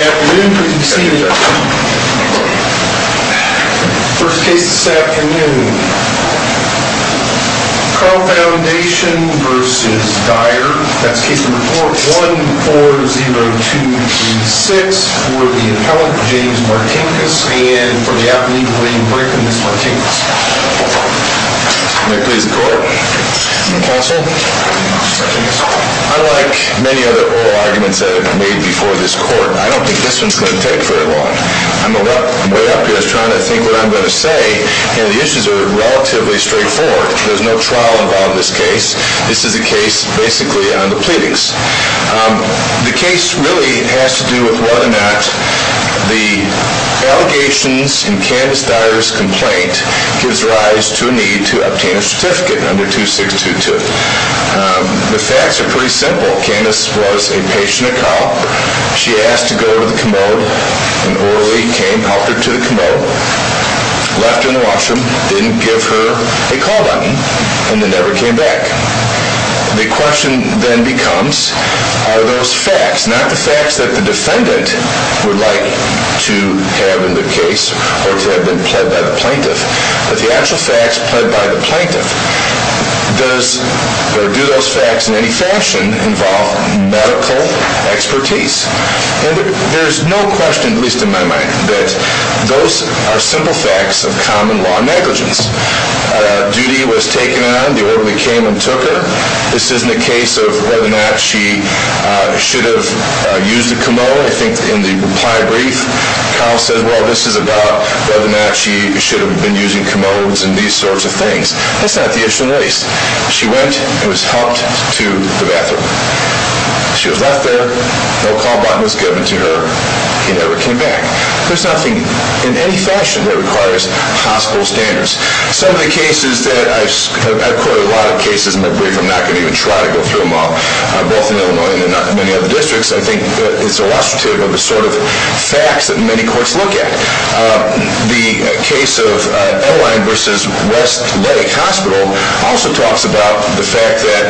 1-4-0-2-3-6 for the appellant, James Martinkus, and for the appellant, William Brickman, Mr. Martinkus. May I please the court? Counsel. Unlike many other oral arguments that have been made before this court, I don't think this one's going to take very long. I'm way up here. I was trying to think what I'm going to say, and the issues are relatively straightforward. There's no trial involved in this case. This is a case basically on the pleadings. The case really has to do with whether or not the allegations in Candace Dyer's complaint gives rise to a need to obtain a certificate under 2-6-2-2. The facts are pretty simple. Candace was a patient at Carle. She asked to go to the commode. An orderly came, helped her to the commode, left her in the washroom, didn't give her a call button, and then never came back. The question then becomes, are those facts, not the facts that the defendant would like to have in the case or to have been pled by the plaintiff, but the actual facts pled by the plaintiff, do those facts in any fashion involve medical expertise? There's no question, at least in my mind, that those are simple facts of common law negligence. Duty was taken on. The orderly came and took her. This isn't a case of whether or not she should have used the commode. I think in the reply brief, Carle says, well, this is about whether or not she should have been using commodes and these sorts of things. That's not the issue, at least. She went and was helped to the bathroom. She was left there. No call button was given to her. He never came back. There's nothing in any fashion that requires hospital standards. Some of the cases that I've quoted, a lot of cases in my brief, I'm not going to even try to go through them all, both in Illinois and in many other districts. I think it's illustrative of the sort of facts that many courts look at. The case of L.A. versus West Lake Hospital also talks about the fact that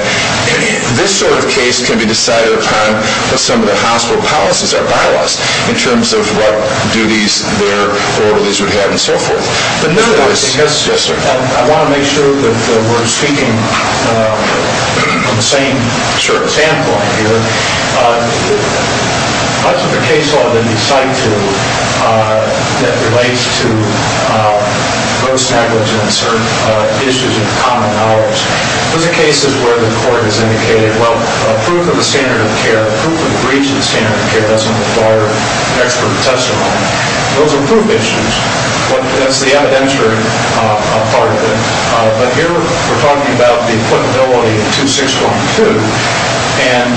this sort of case can be decided upon what some of the hospital policies are bylaws in terms of what duties their orderlies would have and so forth. I want to make sure that we're speaking from the same standpoint here. Much of the case law that we cite that relates to gross negligence or issues of common dollars, those are cases where the court has indicated, well, it doesn't require an expert testimony. Those are proof issues. That's the evidentiary part of it. But here we're talking about the equitability of 2612. And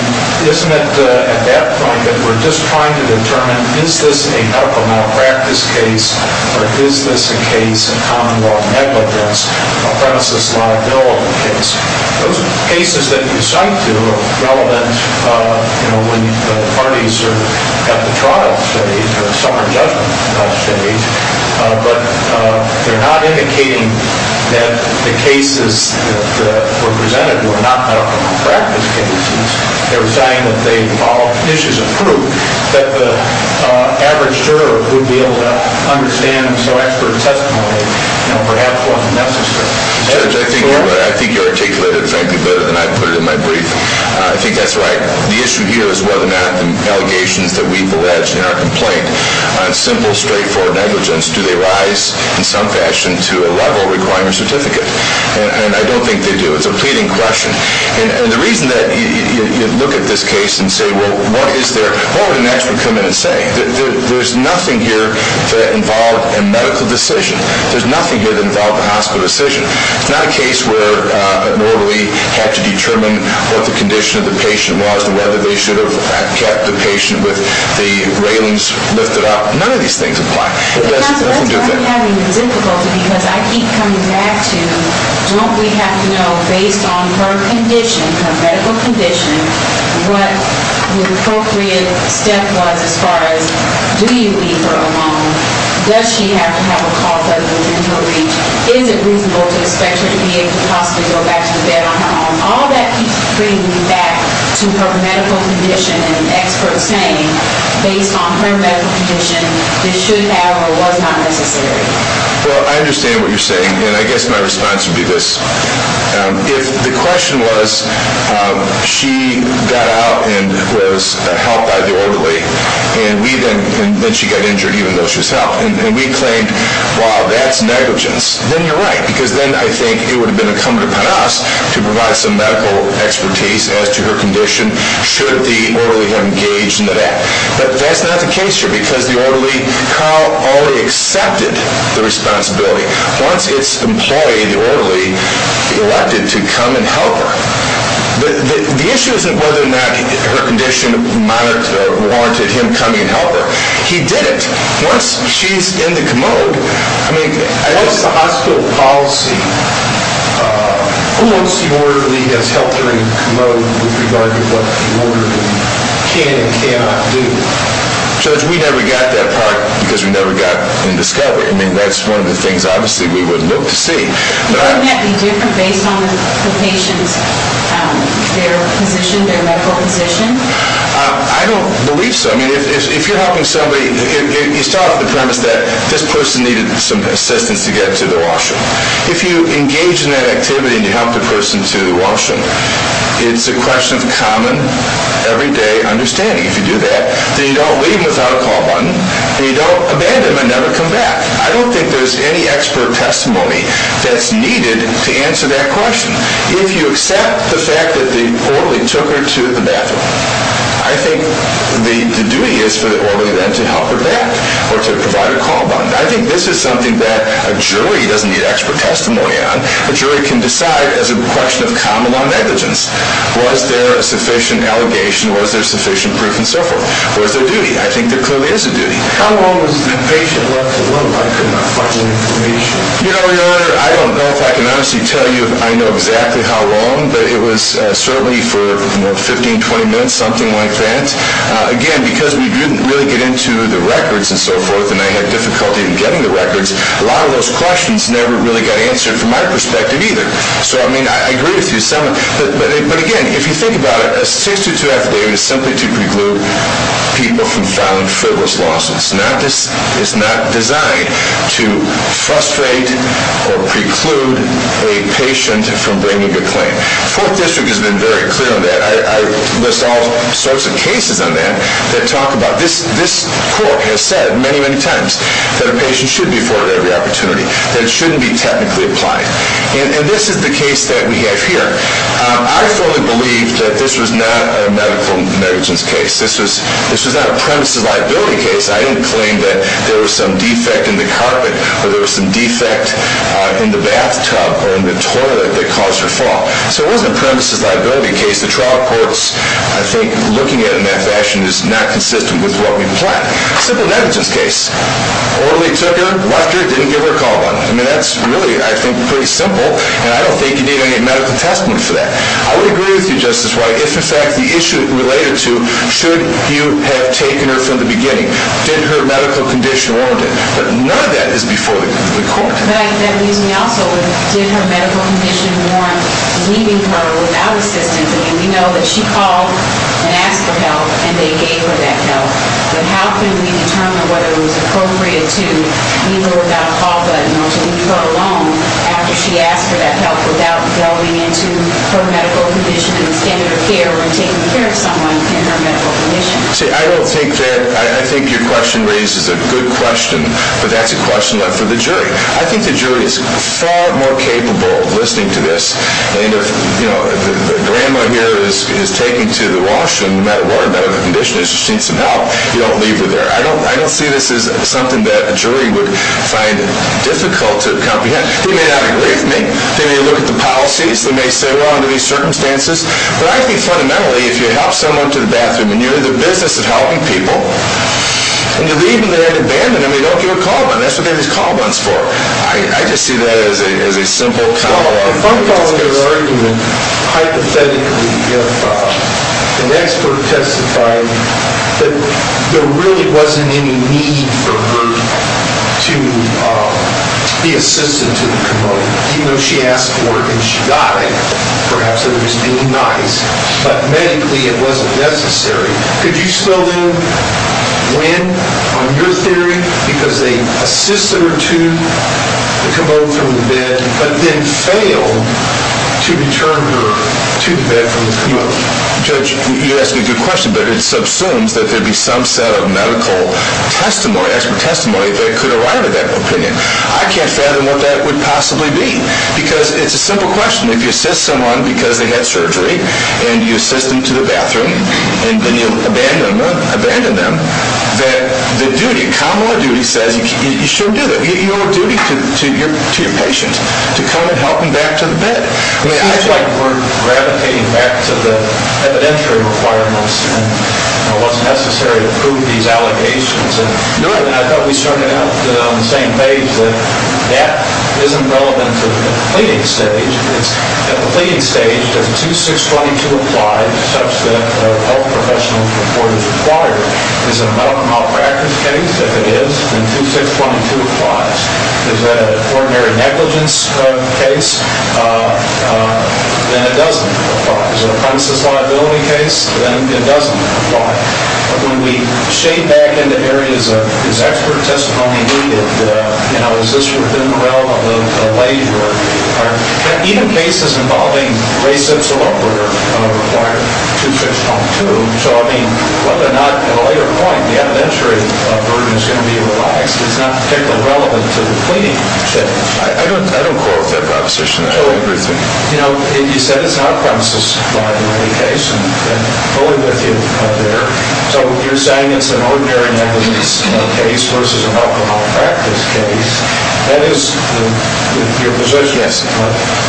isn't it at that point that we're just trying to determine is this a medical malpractice case or is this a case of common law negligence, a premises liability case? Those cases that you cite to are relevant when the parties are at the trial stage or the summer judgment stage, but they're not indicating that the cases that were presented were not medical malpractice cases. They were saying that they involved issues of proof that the average juror would be able to understand, so expert testimony perhaps wasn't necessary. I think you articulated it frankly better than I put it in my brief. I think that's right. The issue here is whether or not the allegations that we've alleged in our complaint on simple, straightforward negligence, do they rise in some fashion to a level requiring a certificate? And I don't think they do. It's a pleading question. And the reason that you look at this case and say, well, what is there, what would an expert come in and say? There's nothing here that involved a medical decision. There's nothing here that involved a hospital decision. It's not a case where a normally had to determine what the condition of the patient was and whether they should have kept the patient with the railings lifted up. None of these things apply. And that's where I'm having difficulty because I keep coming back to, don't we have to know based on her condition, her medical condition, what the appropriate step was as far as do you leave her alone? Does she have to have a call center within her reach? Is it reasonable to expect her to be able to possibly go back to the bed on her own? And all that keeps bringing me back to her medical condition and experts saying, based on her medical condition, this should have or was not necessary. Well, I understand what you're saying, and I guess my response would be this. If the question was, she got out and was helped by the orderly, and then she got injured even though she was helped, and we claimed, wow, that's negligence. Then you're right, because then I think it would have been incumbent upon us to provide some medical expertise as to her condition should the orderly have engaged in the death. But that's not the case here, because the orderly, Carl, already accepted the responsibility once its employee, the orderly, elected to come and help her. The issue isn't whether or not her condition monitored or warranted him coming and helping her. He didn't. Once she's in the commode, I mean... What is the hospital policy towards the orderly that's helped her in the commode with regard to what the orderly can and cannot do? Judge, we never got that part because we never got any discovery. I mean, that's one of the things, obviously, we would look to see. Wouldn't that be different based on the patient's, their position, their medical position? I don't believe so. I mean, if you're helping somebody, you start off with the premise that this person needed some assistance to get to the washroom. If you engage in that activity and you help the person to the washroom, it's a question of common, everyday understanding. If you do that, then you don't leave without a call button, and you don't abandon them and never come back. I don't think there's any expert testimony that's needed to answer that question. If you accept the fact that the orderly took her to the bathroom, I think the duty is for the orderly then to help her back or to provide a call button. I think this is something that a jury doesn't need expert testimony on. A jury can decide as a question of common law negligence. Was there a sufficient allegation? Was there sufficient proof? And so forth. Where's their duty? I think there clearly is a duty. How long was the patient left alone? I could not find any information. You know, Your Honor, I don't know if I can honestly tell you if I know exactly how long, but it was certainly for 15, 20 minutes, something like that. Again, because we didn't really get into the records and so forth and they had difficulty in getting the records, a lot of those questions never really got answered from my perspective either. So, I mean, I agree with you somewhat. But again, if you think about it, a 6-2 affidavit is simply to preclude people from filing frivolous lawsuits. It's not designed to frustrate or preclude a patient from bringing a claim. Fourth District has been very clear on that. I list all sorts of cases on that that talk about this. This court has said many, many times that a patient should be afforded every opportunity, that it shouldn't be technically applied. And this is the case that we have here. I firmly believe that this was not a medical negligence case. This was not a premises liability case. I didn't claim that there was some defect in the carpet or there was some defect in the bathtub or in the toilet that caused her fall. So it wasn't a premises liability case. The trial reports, I think, looking at it in that fashion is not consistent with what we plan. Simple negligence case. Orderly took her, left her, didn't give her a call on it. I mean, that's really, I think, pretty simple and I don't think you need any medical testimony for that. I would agree with you, Justice White, if in fact the issue related to should you have taken her from the beginning, did her medical condition warrant it? But none of that is before the court. But that leaves me also with did her medical condition warrant leaving her without assistance? I mean, we know that she called and asked for help and they gave her that help. But how can we determine whether it was appropriate to leave her without a call button or to leave her alone after she asked for that help without delving into her medical condition and the standard of care when taking care of someone in her medical condition? See, I don't think that, I think your question raises a good question, but that's a question left for the jury. I think the jury is far more capable of listening to this. And if, you know, the grandma here is taken to the washroom, no matter what, no matter the condition, if she needs some help, you don't leave her there. I don't see this as something that a jury would find difficult to comprehend. They may not agree with me. They may look at the policies. They may say, well, under these circumstances. But I think fundamentally, if you help someone to the bathroom and you're in the business of helping people and you leave them there to abandon them, they don't give a call button. That's what they have these call buttons for. I just see that as a simple common law. If I'm following your argument, hypothetically, if an expert testified that there really wasn't any need for her to be assisted to the commode, even though she asked for it and she got it, perhaps it was being nice, but medically it wasn't necessary, could you still win on your theory because they assisted her to the commode from the bed but then failed to return her to the bed from the commode? Judge, you ask a good question, but it subsumes that there'd be some set of medical testimony, expert testimony that could arrive at that opinion. I can't fathom what that would possibly be. Because it's a simple question. If you assist someone because they had surgery and you assist them to the bathroom and then you abandon them, that the duty, common law duty says you should do that. You owe a duty to your patient to come and help them back to the bed. It seems like we're gravitating back to the evidentiary requirements and what's necessary to prove these allegations. I thought we started out on the same page that that isn't relevant to the pleading stage. At the pleading stage, does 2622 apply such that a health professional report is required? Is it a medical malpractice case? If it is, then 2622 applies. Is that an ordinary negligence case? Then it doesn't apply. Is it a criminal liability case? Then it doesn't apply. When we shade back into areas of is expert testimony needed, is this within the realm of a leisure? Are even cases involving race, sex, or other required to 2622? So, I mean, whether or not at a later point the evidentiary burden is going to be relaxed is not particularly relevant to the pleading stage. I don't quote that proposition. You know, you said it's not a criminal liability case. I'm fully with you there. So, you're saying it's an ordinary negligence case versus a medical malpractice case. That is your position. Yes.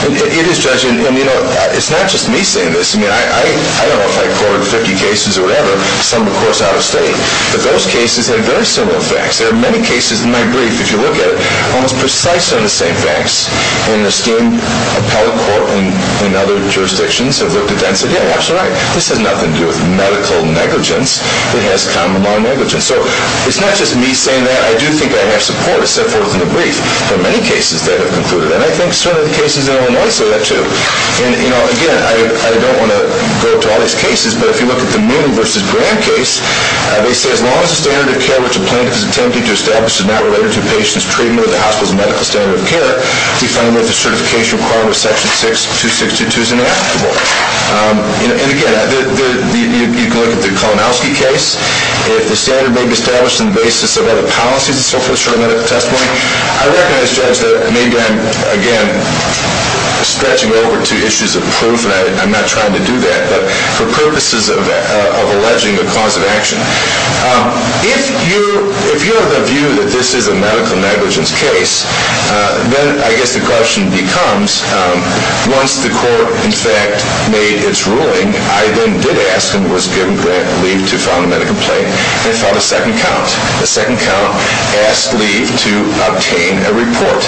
It is, Judge. And, you know, it's not just me saying this. I mean, I don't know if I quoted 50 cases or whatever. Some, of course, are out of state. But those cases have very similar facts. There are many cases in my brief, if you look at it, almost precisely on the same facts. And the esteemed appellate court and other jurisdictions have looked at that and said, yeah, absolutely. This has nothing to do with medical negligence. It has common law negligence. So, it's not just me saying that. I do think I have support, except for it was in the brief. There are many cases that have concluded. And I think some of the cases in Illinois say that, too. And, you know, again, I don't want to go to all these cases. But if you look at the Moodle v. Grand case, they say, as long as the standard of care which a plaintiff is attempting to establish is not related to a patient's treatment or the hospital's medical standard of care, we find that the certification requirement of Section 62622 is ineligible. And, again, you can look at the Kolomowski case. If the standard may be established on the basis of other policies, the Circulation of Medical Testimony, I recognize, Judge, that maybe I'm, again, stretching over to issues of proof, and I'm not trying to do that. But for purposes of alleging a cause of action, if you're of the view that this is a medical negligence case, then I guess the question becomes, once the court, in fact, made its ruling, I then did ask and was given leave to file a medical complaint and filed a second count. The second count asked leave to obtain a report.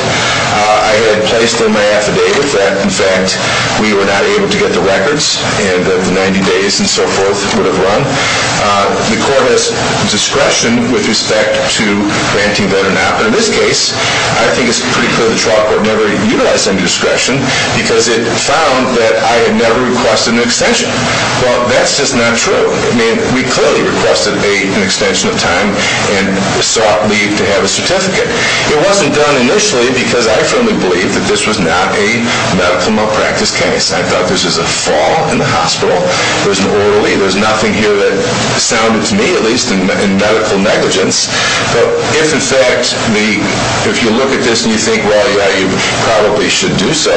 I had placed in my affidavit that, in fact, we were not able to get the records and that the 90 days and so forth would have run. The court has discretion with respect to granting that or not. In this case, I think it's pretty clear the trial court never utilized any discretion because it found that I had never requested an extension. Well, that's just not true. I mean, we clearly requested an extension of time and sought leave to have a certificate. It wasn't done initially because I firmly believe that this was not a medical malpractice case. I thought this was a fall in the hospital. There's an oral leave. There's nothing here that sounded to me, at least, in medical negligence. But if, in fact, if you look at this and you think, well, yeah, you probably should do so,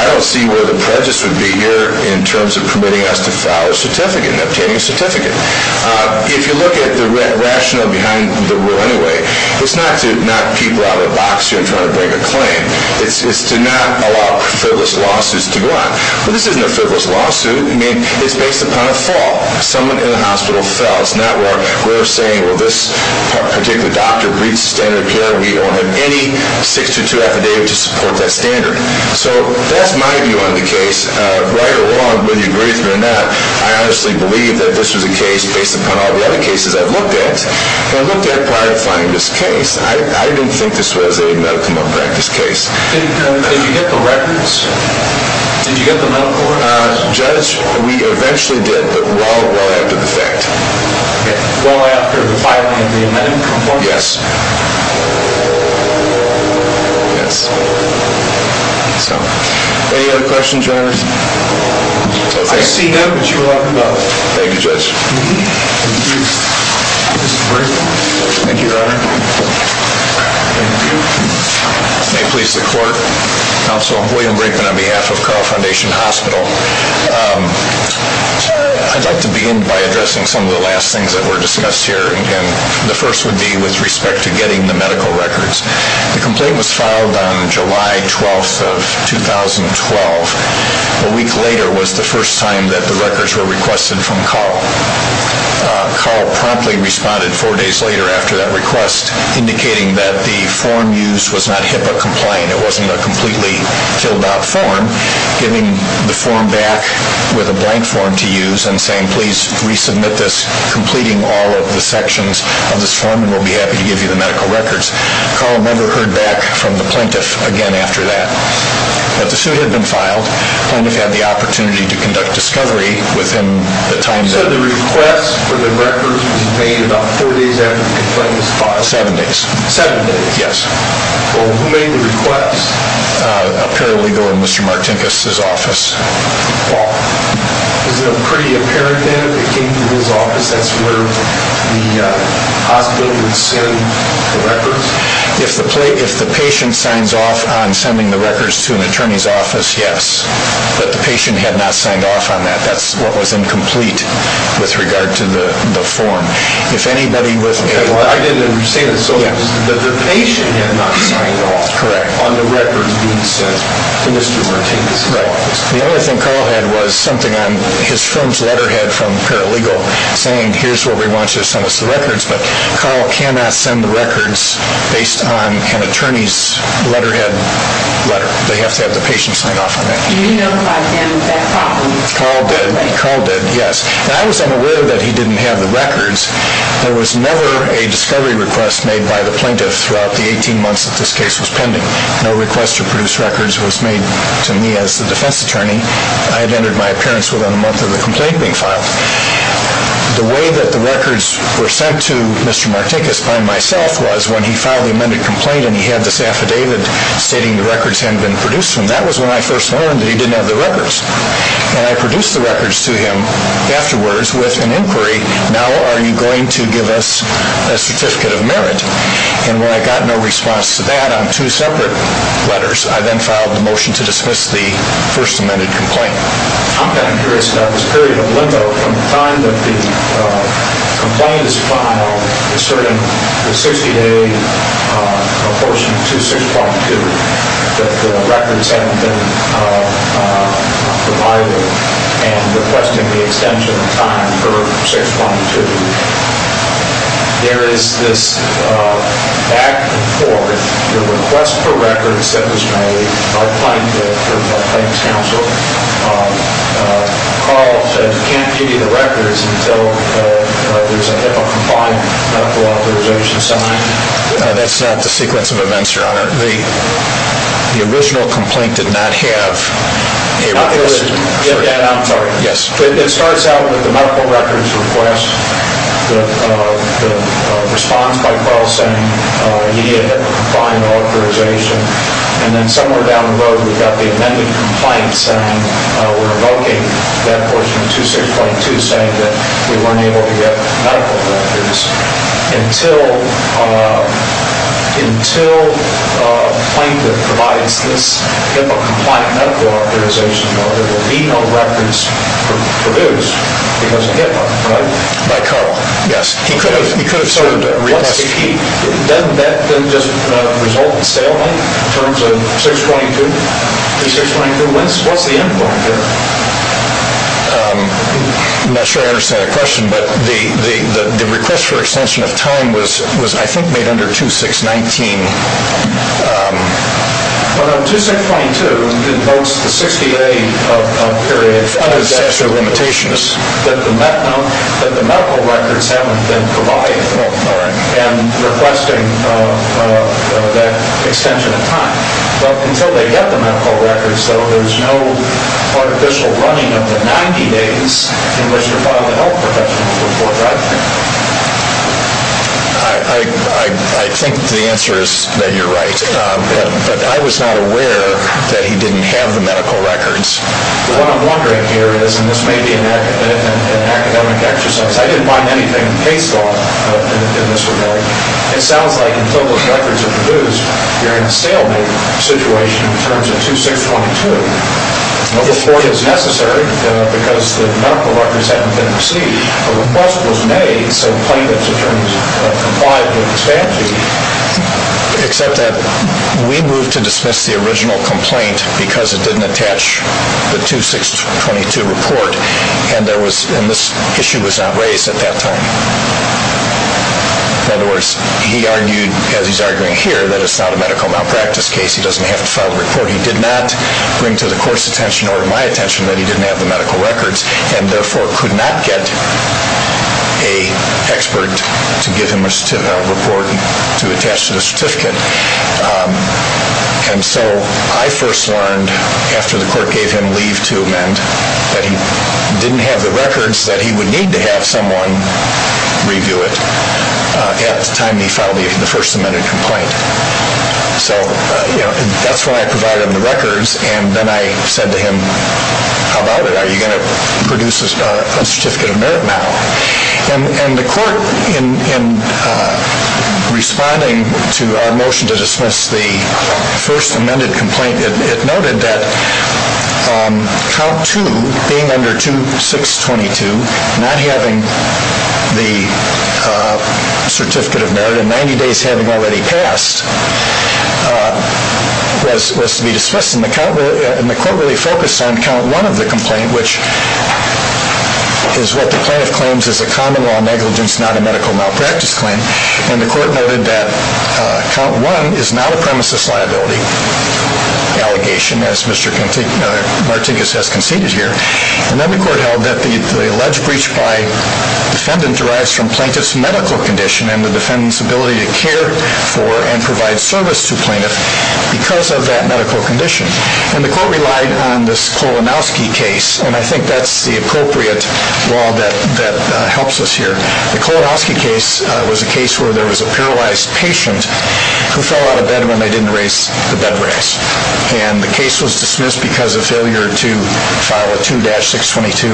I don't see where the prejudice would be here in terms of permitting us to file a certificate and obtaining a certificate. If you look at the rationale behind the rule anyway, it's not to knock people out of a box here trying to bring a claim. It's to not allow frivolous lawsuits to go on. Well, this isn't a frivolous lawsuit. I mean, it's based upon a fall. Someone in the hospital fell. It's not where we're saying, well, this particular doctor breached the standard of care. We don't have any 6-2-2 affidavit to support that standard. So that's my view on the case. Right or wrong, whether you agree with me or not, I honestly believe that this was a case based upon all the other cases I've looked at and looked at prior to finding this case. I didn't think this was a medical malpractice case. Did you get the records? Did you get the medical records? Judge, we eventually did, but well after the fact. Okay, well after filing the amended report? Yes. Yes. So, any other questions or comments? Okay. I see none, but you are welcome to go. Thank you, Judge. Thank you. This is a great one. Thank you, Your Honor. Thank you. May it please the Court. Counsel, I'm William Brinkman on behalf of Carl Foundation Hospital. I'd like to begin by addressing some of the last things that were discussed here, and the first would be with respect to getting the medical records. The complaint was filed on July 12th of 2012. A week later was the first time that the records were requested from Carl. Carl promptly responded four days later after that request, indicating that the form used was not HIPAA compliant. It wasn't a completely filled out form, giving the form back with a blank form to use and saying, please resubmit this, completing all of the sections of this form, and we'll be happy to give you the medical records. Carl never heard back from the plaintiff again after that. But the suit had been filed. The plaintiff had the opportunity to conduct discovery within the time that So the request for the records was made about four days after the complaint was filed? Seven days. Seven days? Yes. Well, who made the request? A paralegal in Mr. Martinkus' office. Wow. Is it pretty apparent then if it came to his office, that's where the hospital would send the records? If the patient signs off on sending the records to an attorney's office, yes. But the patient had not signed off on that. That's what was incomplete with regard to the form. If anybody was... I didn't say that. So the patient had not signed off on the records being sent to Mr. Martinkus' office? Right. The only thing Carl had was something on his firm's letterhead from a paralegal saying, here's where we want you to send us the records. But Carl cannot send the records based on an attorney's letterhead letter. They have to have the patient sign off on that. Did you notify him of that problem? Carl did. Carl did, yes. I was unaware that he didn't have the records. There was never a discovery request made by the plaintiff throughout the 18 months that this case was pending. No request to produce records was made to me as the defense attorney. I had entered my appearance within a month of the complaint being filed. The way that the records were sent to Mr. Martinkus by myself was when he filed the amended complaint and he had this affidavit stating the records hadn't been produced to him. That was when I first learned that he didn't have the records. And I produced the records to him afterwards with an inquiry, now are you going to give us a certificate of merit? And when I got no response to that on two separate letters, I then filed a motion to dismiss the first amended complaint. I'm kind of curious about this period of limbo from the time that the complaint is filed asserting the 60-day apportionment to 6.2 that the records hadn't been provided and requesting the extension of time for 6.2. There is this back and forth. The request for records that was made by the plaintiff or the plaintiff's counsel, Carl said you can't give me the records until there's a HIPAA-compliant medical authorization signed. That's not the sequence of events, Your Honor. The original complaint did not have a... I'm sorry. Yes. It starts out with the medical records request, the response by Carl saying he needed a HIPAA-compliant authorization, and then somewhere down the road we've got the amended complaint saying we're revoking that portion of 2.6.2 saying that we weren't able to get medical records until the plaintiff provides this HIPAA-compliant medical authorization or there will be no records produced because of HIPAA, right? By Carl, yes. He could have served a real test. If he did that, then just result in stalemate in terms of 6.2. The 6.2, what's the end point there? I'm not sure I understand the question, but the request for extension of time was, I think, made under 2.6.19. No, no, 2.6.2 invokes the 60-day period. Under the statute of limitations. No, that the medical records haven't been provided and requesting that extension of time. But until they get the medical records, though, there's no artificial running of the 90 days in which to file the health professional report, right? I think the answer is that you're right, but I was not aware that he didn't have the medical records. What I'm wondering here is, and this may be an academic exercise, I didn't find anything case law in this report. It sounds like until those records are produced, you're in a stalemate situation in terms of 2.6.22. No report is necessary because the medical records haven't been received. The request was made so plaintiff's attorneys complied with the statute. Except that we moved to dismiss the original complaint because it didn't attach the 2.6.22 report, and this issue was not raised at that time. In other words, he argued, as he's arguing here, that it's not a medical malpractice case. He doesn't have to file the report. He did not bring to the court's attention or my attention that he didn't have the medical records and therefore could not get an expert to give him a report to attach to the certificate. And so I first learned after the court gave him leave to amend that he didn't have the records that he would need to have someone review it at the time he filed the first amended complaint. So that's why I provided him the records. And then I said to him, how about it? Are you going to produce a certificate of merit now? And the court, in responding to our motion to dismiss the first amended complaint, it noted that count two, being under 2.6.22, not having the certificate of merit and 90 days having already passed, was to be dismissed. And the court really focused on count one of the complaint, which is what the plaintiff claims is a common law negligence, not a medical malpractice claim. And the court noted that count one is not a premises liability allegation, as Mr. Martinkus has conceded here. And then the court held that the alleged breach by defendant derives from plaintiff's medical condition and the defendant's ability to care for and provide service to plaintiff because of that medical condition. And the court relied on this Kolanowski case, and I think that's the appropriate law that helps us here. The Kolanowski case was a case where there was a paralyzed patient who fell out of bed when they didn't raise the bedrest. And the case was dismissed because of failure to file a 2-622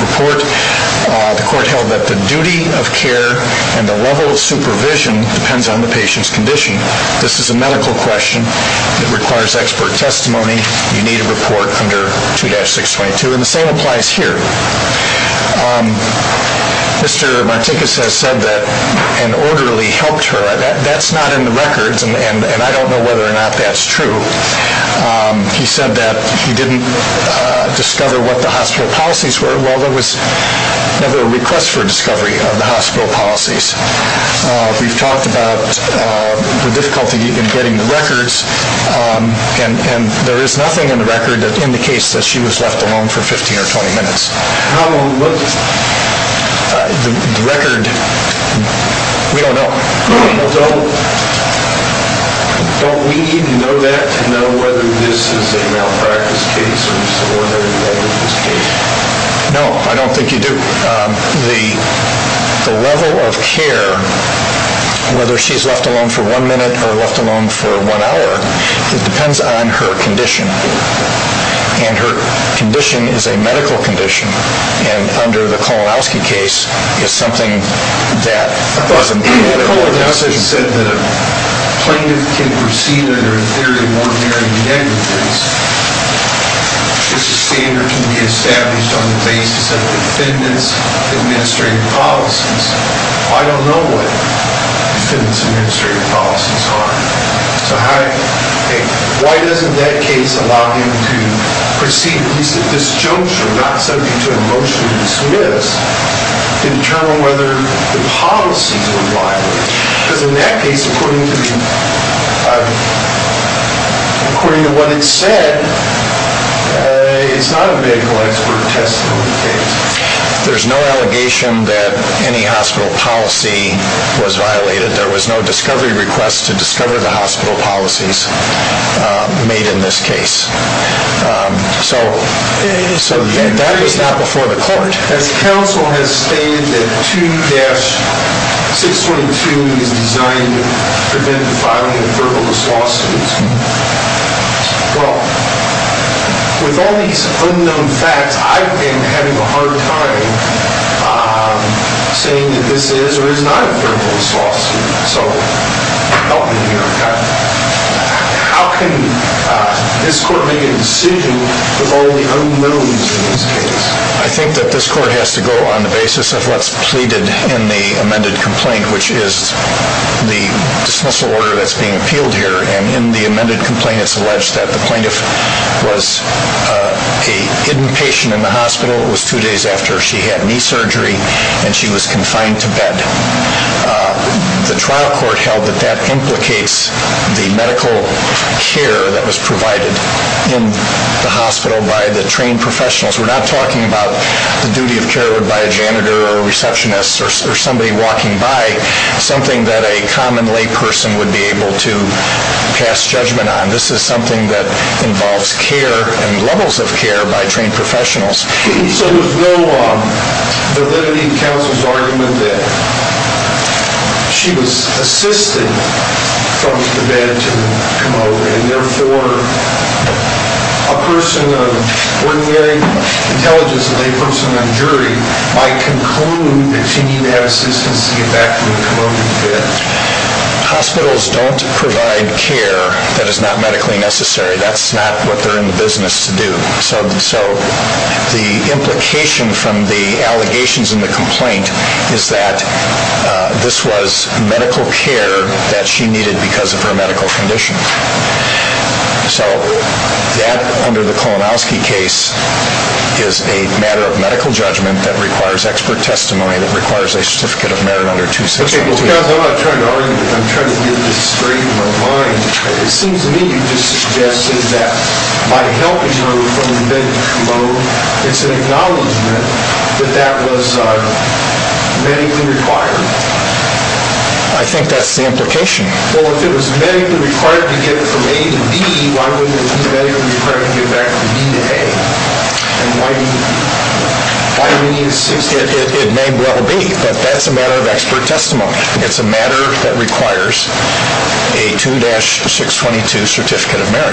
report. The court held that the duty of care and the level of supervision depends on the patient's condition. This is a medical question that requires expert testimony. You need a report under 2-622, and the same applies here. Mr. Martinkus has said that an orderly helped her. That's not in the records, and I don't know whether or not that's true. He said that he didn't discover what the hospital policies were. Well, there was never a request for discovery of the hospital policies. We've talked about the difficulty in getting the records, and there is nothing in the record that indicates that she was left alone for 15 or 20 minutes. How long was the record? We don't know. Don't we need to know that to know whether this is a malpractice case or whether there was a case? No, I don't think you do. The level of care, whether she's left alone for one minute or left alone for one hour, depends on her condition. And her condition is a medical condition, and under the Kolonowski case, it's something that doesn't... I thought Kolonowski said that a plaintiff can proceed under a theory of ordinary negligence. It's a standard that can be established on the basis of defendant's administrative policies. I don't know what defendant's administrative policies are. So why doesn't that case allow him to proceed, at least at this juncture, not subject to a motion to dismiss, to determine whether the policies were violated? Because in that case, according to what it said, it's not a medical expert testimony case. There's no allegation that any hospital policy was violated. There was no discovery request to discover the hospital policies made in this case. So that was not before the court. As counsel has stated, that 2-622 is designed to prevent the filing of verbal dismissal lawsuits. Well, with all these unknown facts, I've been having a hard time saying that this is or is not a verbal lawsuit. So help me here, how can this court make a decision with all the unknowns in this case? I think that this court has to go on the basis of what's pleaded in the amended complaint, which is the dismissal order that's being appealed here. And in the amended complaint, it's alleged that the plaintiff was a hidden patient in the hospital. It was two days after she had knee surgery, and she was confined to bed. The trial court held that that implicates the medical care that was provided in the hospital by the trained professionals. We're not talking about the duty of care by a janitor or a receptionist or somebody walking by, something that a common layperson would be able to pass judgment on. This is something that involves care and levels of care by trained professionals. So there's no validity in counsel's argument that she was assisted from the bed to come over, and therefore a person of ordinary intelligence, a layperson, a jury, might conclude that she needed to have assistance to get back from the bed. Hospitals don't provide care that is not medically necessary. That's not what they're in the business to do. So the implication from the allegations in the complaint is that this was medical care that she needed because of her medical conditions. So that, under the Klonowski case, is a matter of medical judgment that requires expert testimony, that requires a certificate of merit under 2612. I'm trying to get this straight in my mind. It seems to me you're just suggesting that by helping her from the bed to come over, it's an acknowledgment that that was medically required. I think that's the implication. Well, if it was medically required to get from A to B, why wouldn't it be medically required to get back from B to A? Why do you insist? It may well be, but that's a matter of expert testimony. It's a matter that requires a 2-622 certificate of merit.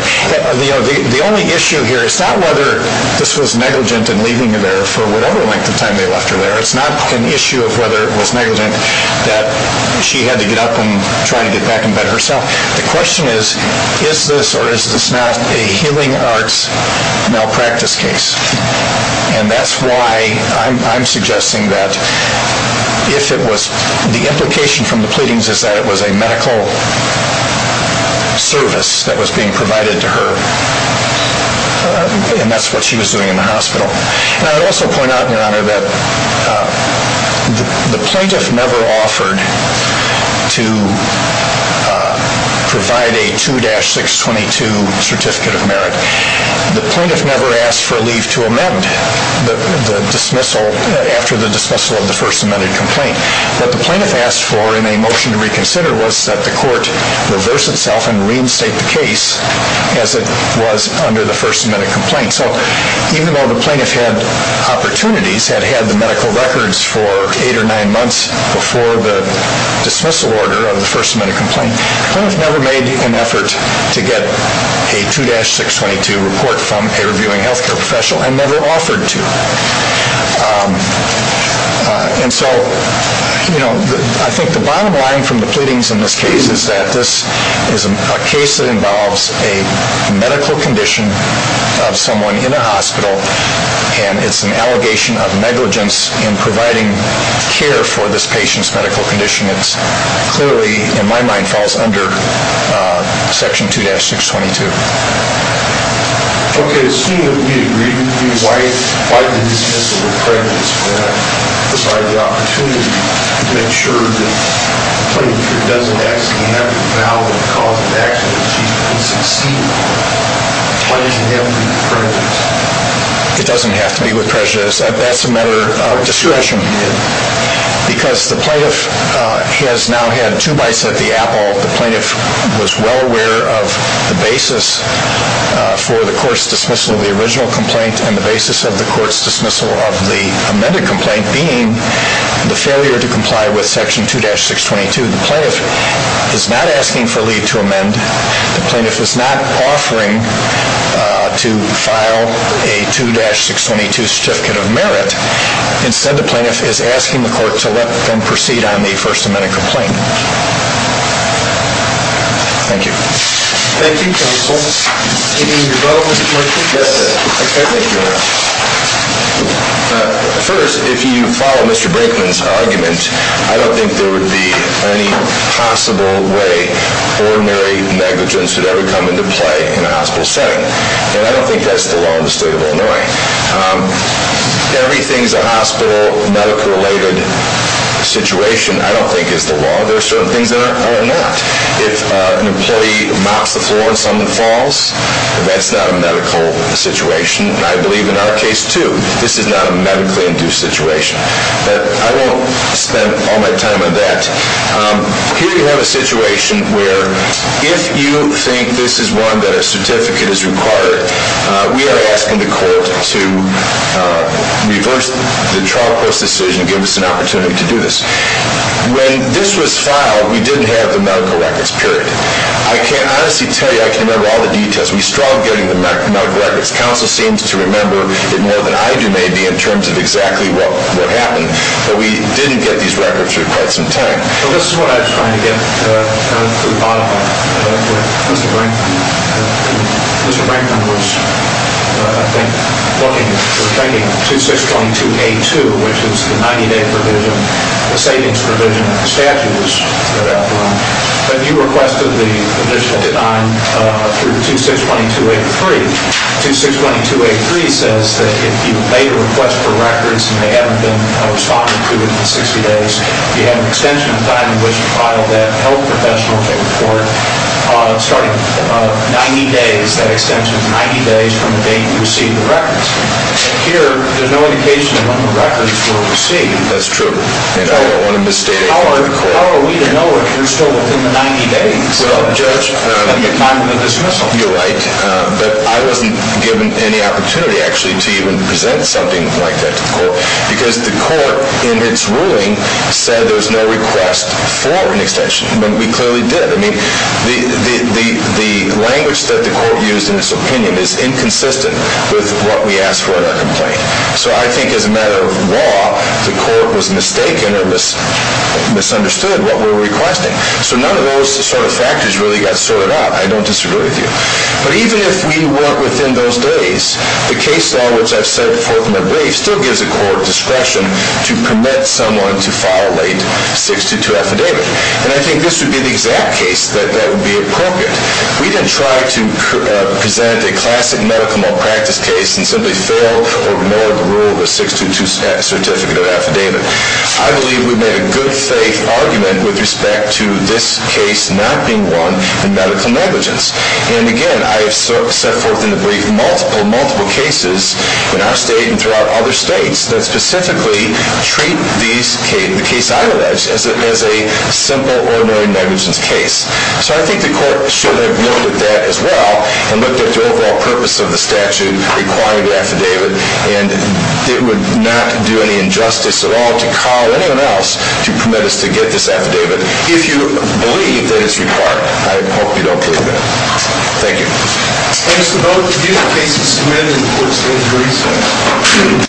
The only issue here is not whether this was negligent in leaving her there for whatever length of time they left her there. It's not an issue of whether it was negligent that she had to get up and try to get back in bed herself. The question is, is this or is this not a healing arts malpractice case? And that's why I'm suggesting that the implication from the pleadings is that it was a medical service that was being provided to her, and that's what she was doing in the hospital. And I would also point out, Your Honor, that the plaintiff never offered to provide a 2-622 certificate of merit. The plaintiff never asked for leave to amend the dismissal after the dismissal of the First Amendment complaint. What the plaintiff asked for in a motion to reconsider was that the court reverse itself and reinstate the case as it was under the First Amendment complaint. And so even though the plaintiff had opportunities, had had the medical records for eight or nine months before the dismissal order of the First Amendment complaint, the plaintiff never made an effort to get a 2-622 report from a reviewing health care professional and never offered to. And so I think the bottom line from the pleadings in this case is that this is a case that involves a medical condition of someone in a hospital, and it's an allegation of negligence in providing care for this patient's medical condition. It clearly, in my mind, falls under Section 2-622. Okay, assuming that we agree with you, why did the dismissal with prejudice provide the opportunity to make sure that the plaintiff doesn't have to have a valid cause of action to be succeeded for? Why does it have to be prejudice? It doesn't have to be with prejudice. That's a matter of discretion. Because the plaintiff has now had two bites of the apple. The plaintiff was well aware of the basis for the court's dismissal of the original complaint and the basis of the court's dismissal of the amended complaint being the failure to comply with Section 2-622. The plaintiff is not asking for leave to amend. The plaintiff is not offering to file a 2-622 certificate of merit. Instead, the plaintiff is asking the court to let them proceed on the First Amendment complaint. Thank you. Thank you, counsel. Any other comments? Yes, sir. Thank you, Your Honor. First, if you follow Mr. Brinkman's argument, I don't think there would be any possible way ordinary negligence would ever come into play in a hospital setting. And I don't think that's the law in the state of Illinois. Everything's a hospital, medical-related situation. I don't think it's the law. There are certain things that are not. If an employee mops the floor and someone falls, that's not a medical situation. And I believe in our case, too, this is not a medically-induced situation. But I won't spend all my time on that. Here you have a situation where if you think this is one that a certificate is required, we are asking the court to reverse the trial post decision and give us an opportunity to do this. When this was filed, we didn't have the medical records, period. I can't honestly tell you I can remember all the details. We struggled getting the medical records. Counsel seems to remember it more than I do, maybe, in terms of exactly what happened. But we didn't get these records for quite some time. Well, this is what I'm trying to get to the bottom of. Mr. Brankman was, I think, looking, was thinking of 2622A2, which is the 90-day provision, the savings provision that the statute was outlawed. But you requested the initial design through the 2622A3. 2622A3 says that if you've made a request for records and they haven't been responded to in 60 days, you have an extension of time in which to file that health professional to the court starting 90 days, that extension of 90 days from the date you received the records. Here, there's no indication of when the records were received. That's true. And I don't want to mistake it. How are we to know if you're still within the 90 days of the time of the dismissal? You're right. But I wasn't given any opportunity, actually, to even present something like that to the court because the court, in its ruling, said there was no request for an extension. But we clearly did. I mean, the language that the court used in its opinion is inconsistent with what we asked for in our complaint. So I think, as a matter of law, the court was mistaken or misunderstood what we were requesting. So none of those sort of factors really got sorted out. I don't disagree with you. But even if we weren't within those days, the case law, which I've said before in my brief, still gives a court discretion to permit someone to file a late 622 affidavit. And I think this would be the exact case that would be appropriate. We didn't try to present a classic medical malpractice case and simply fail or ignore the rule of a 622 certificate of affidavit. I believe we made a good faith argument with respect to this case not being one in medical negligence. And again, I have set forth in the brief multiple, multiple cases in our state and throughout other states that specifically treat the case I allege as a simple, ordinary negligence case. So I think the court should have noted that as well and looked at the overall purpose of the statute requiring the affidavit. And it would not do any injustice at all to call anyone else to permit us to get this affidavit if you believe that it's required. I hope you don't believe that. Thank you. Thank you, Mr. Bowman. Do you have a case that's amended in the court's case recently?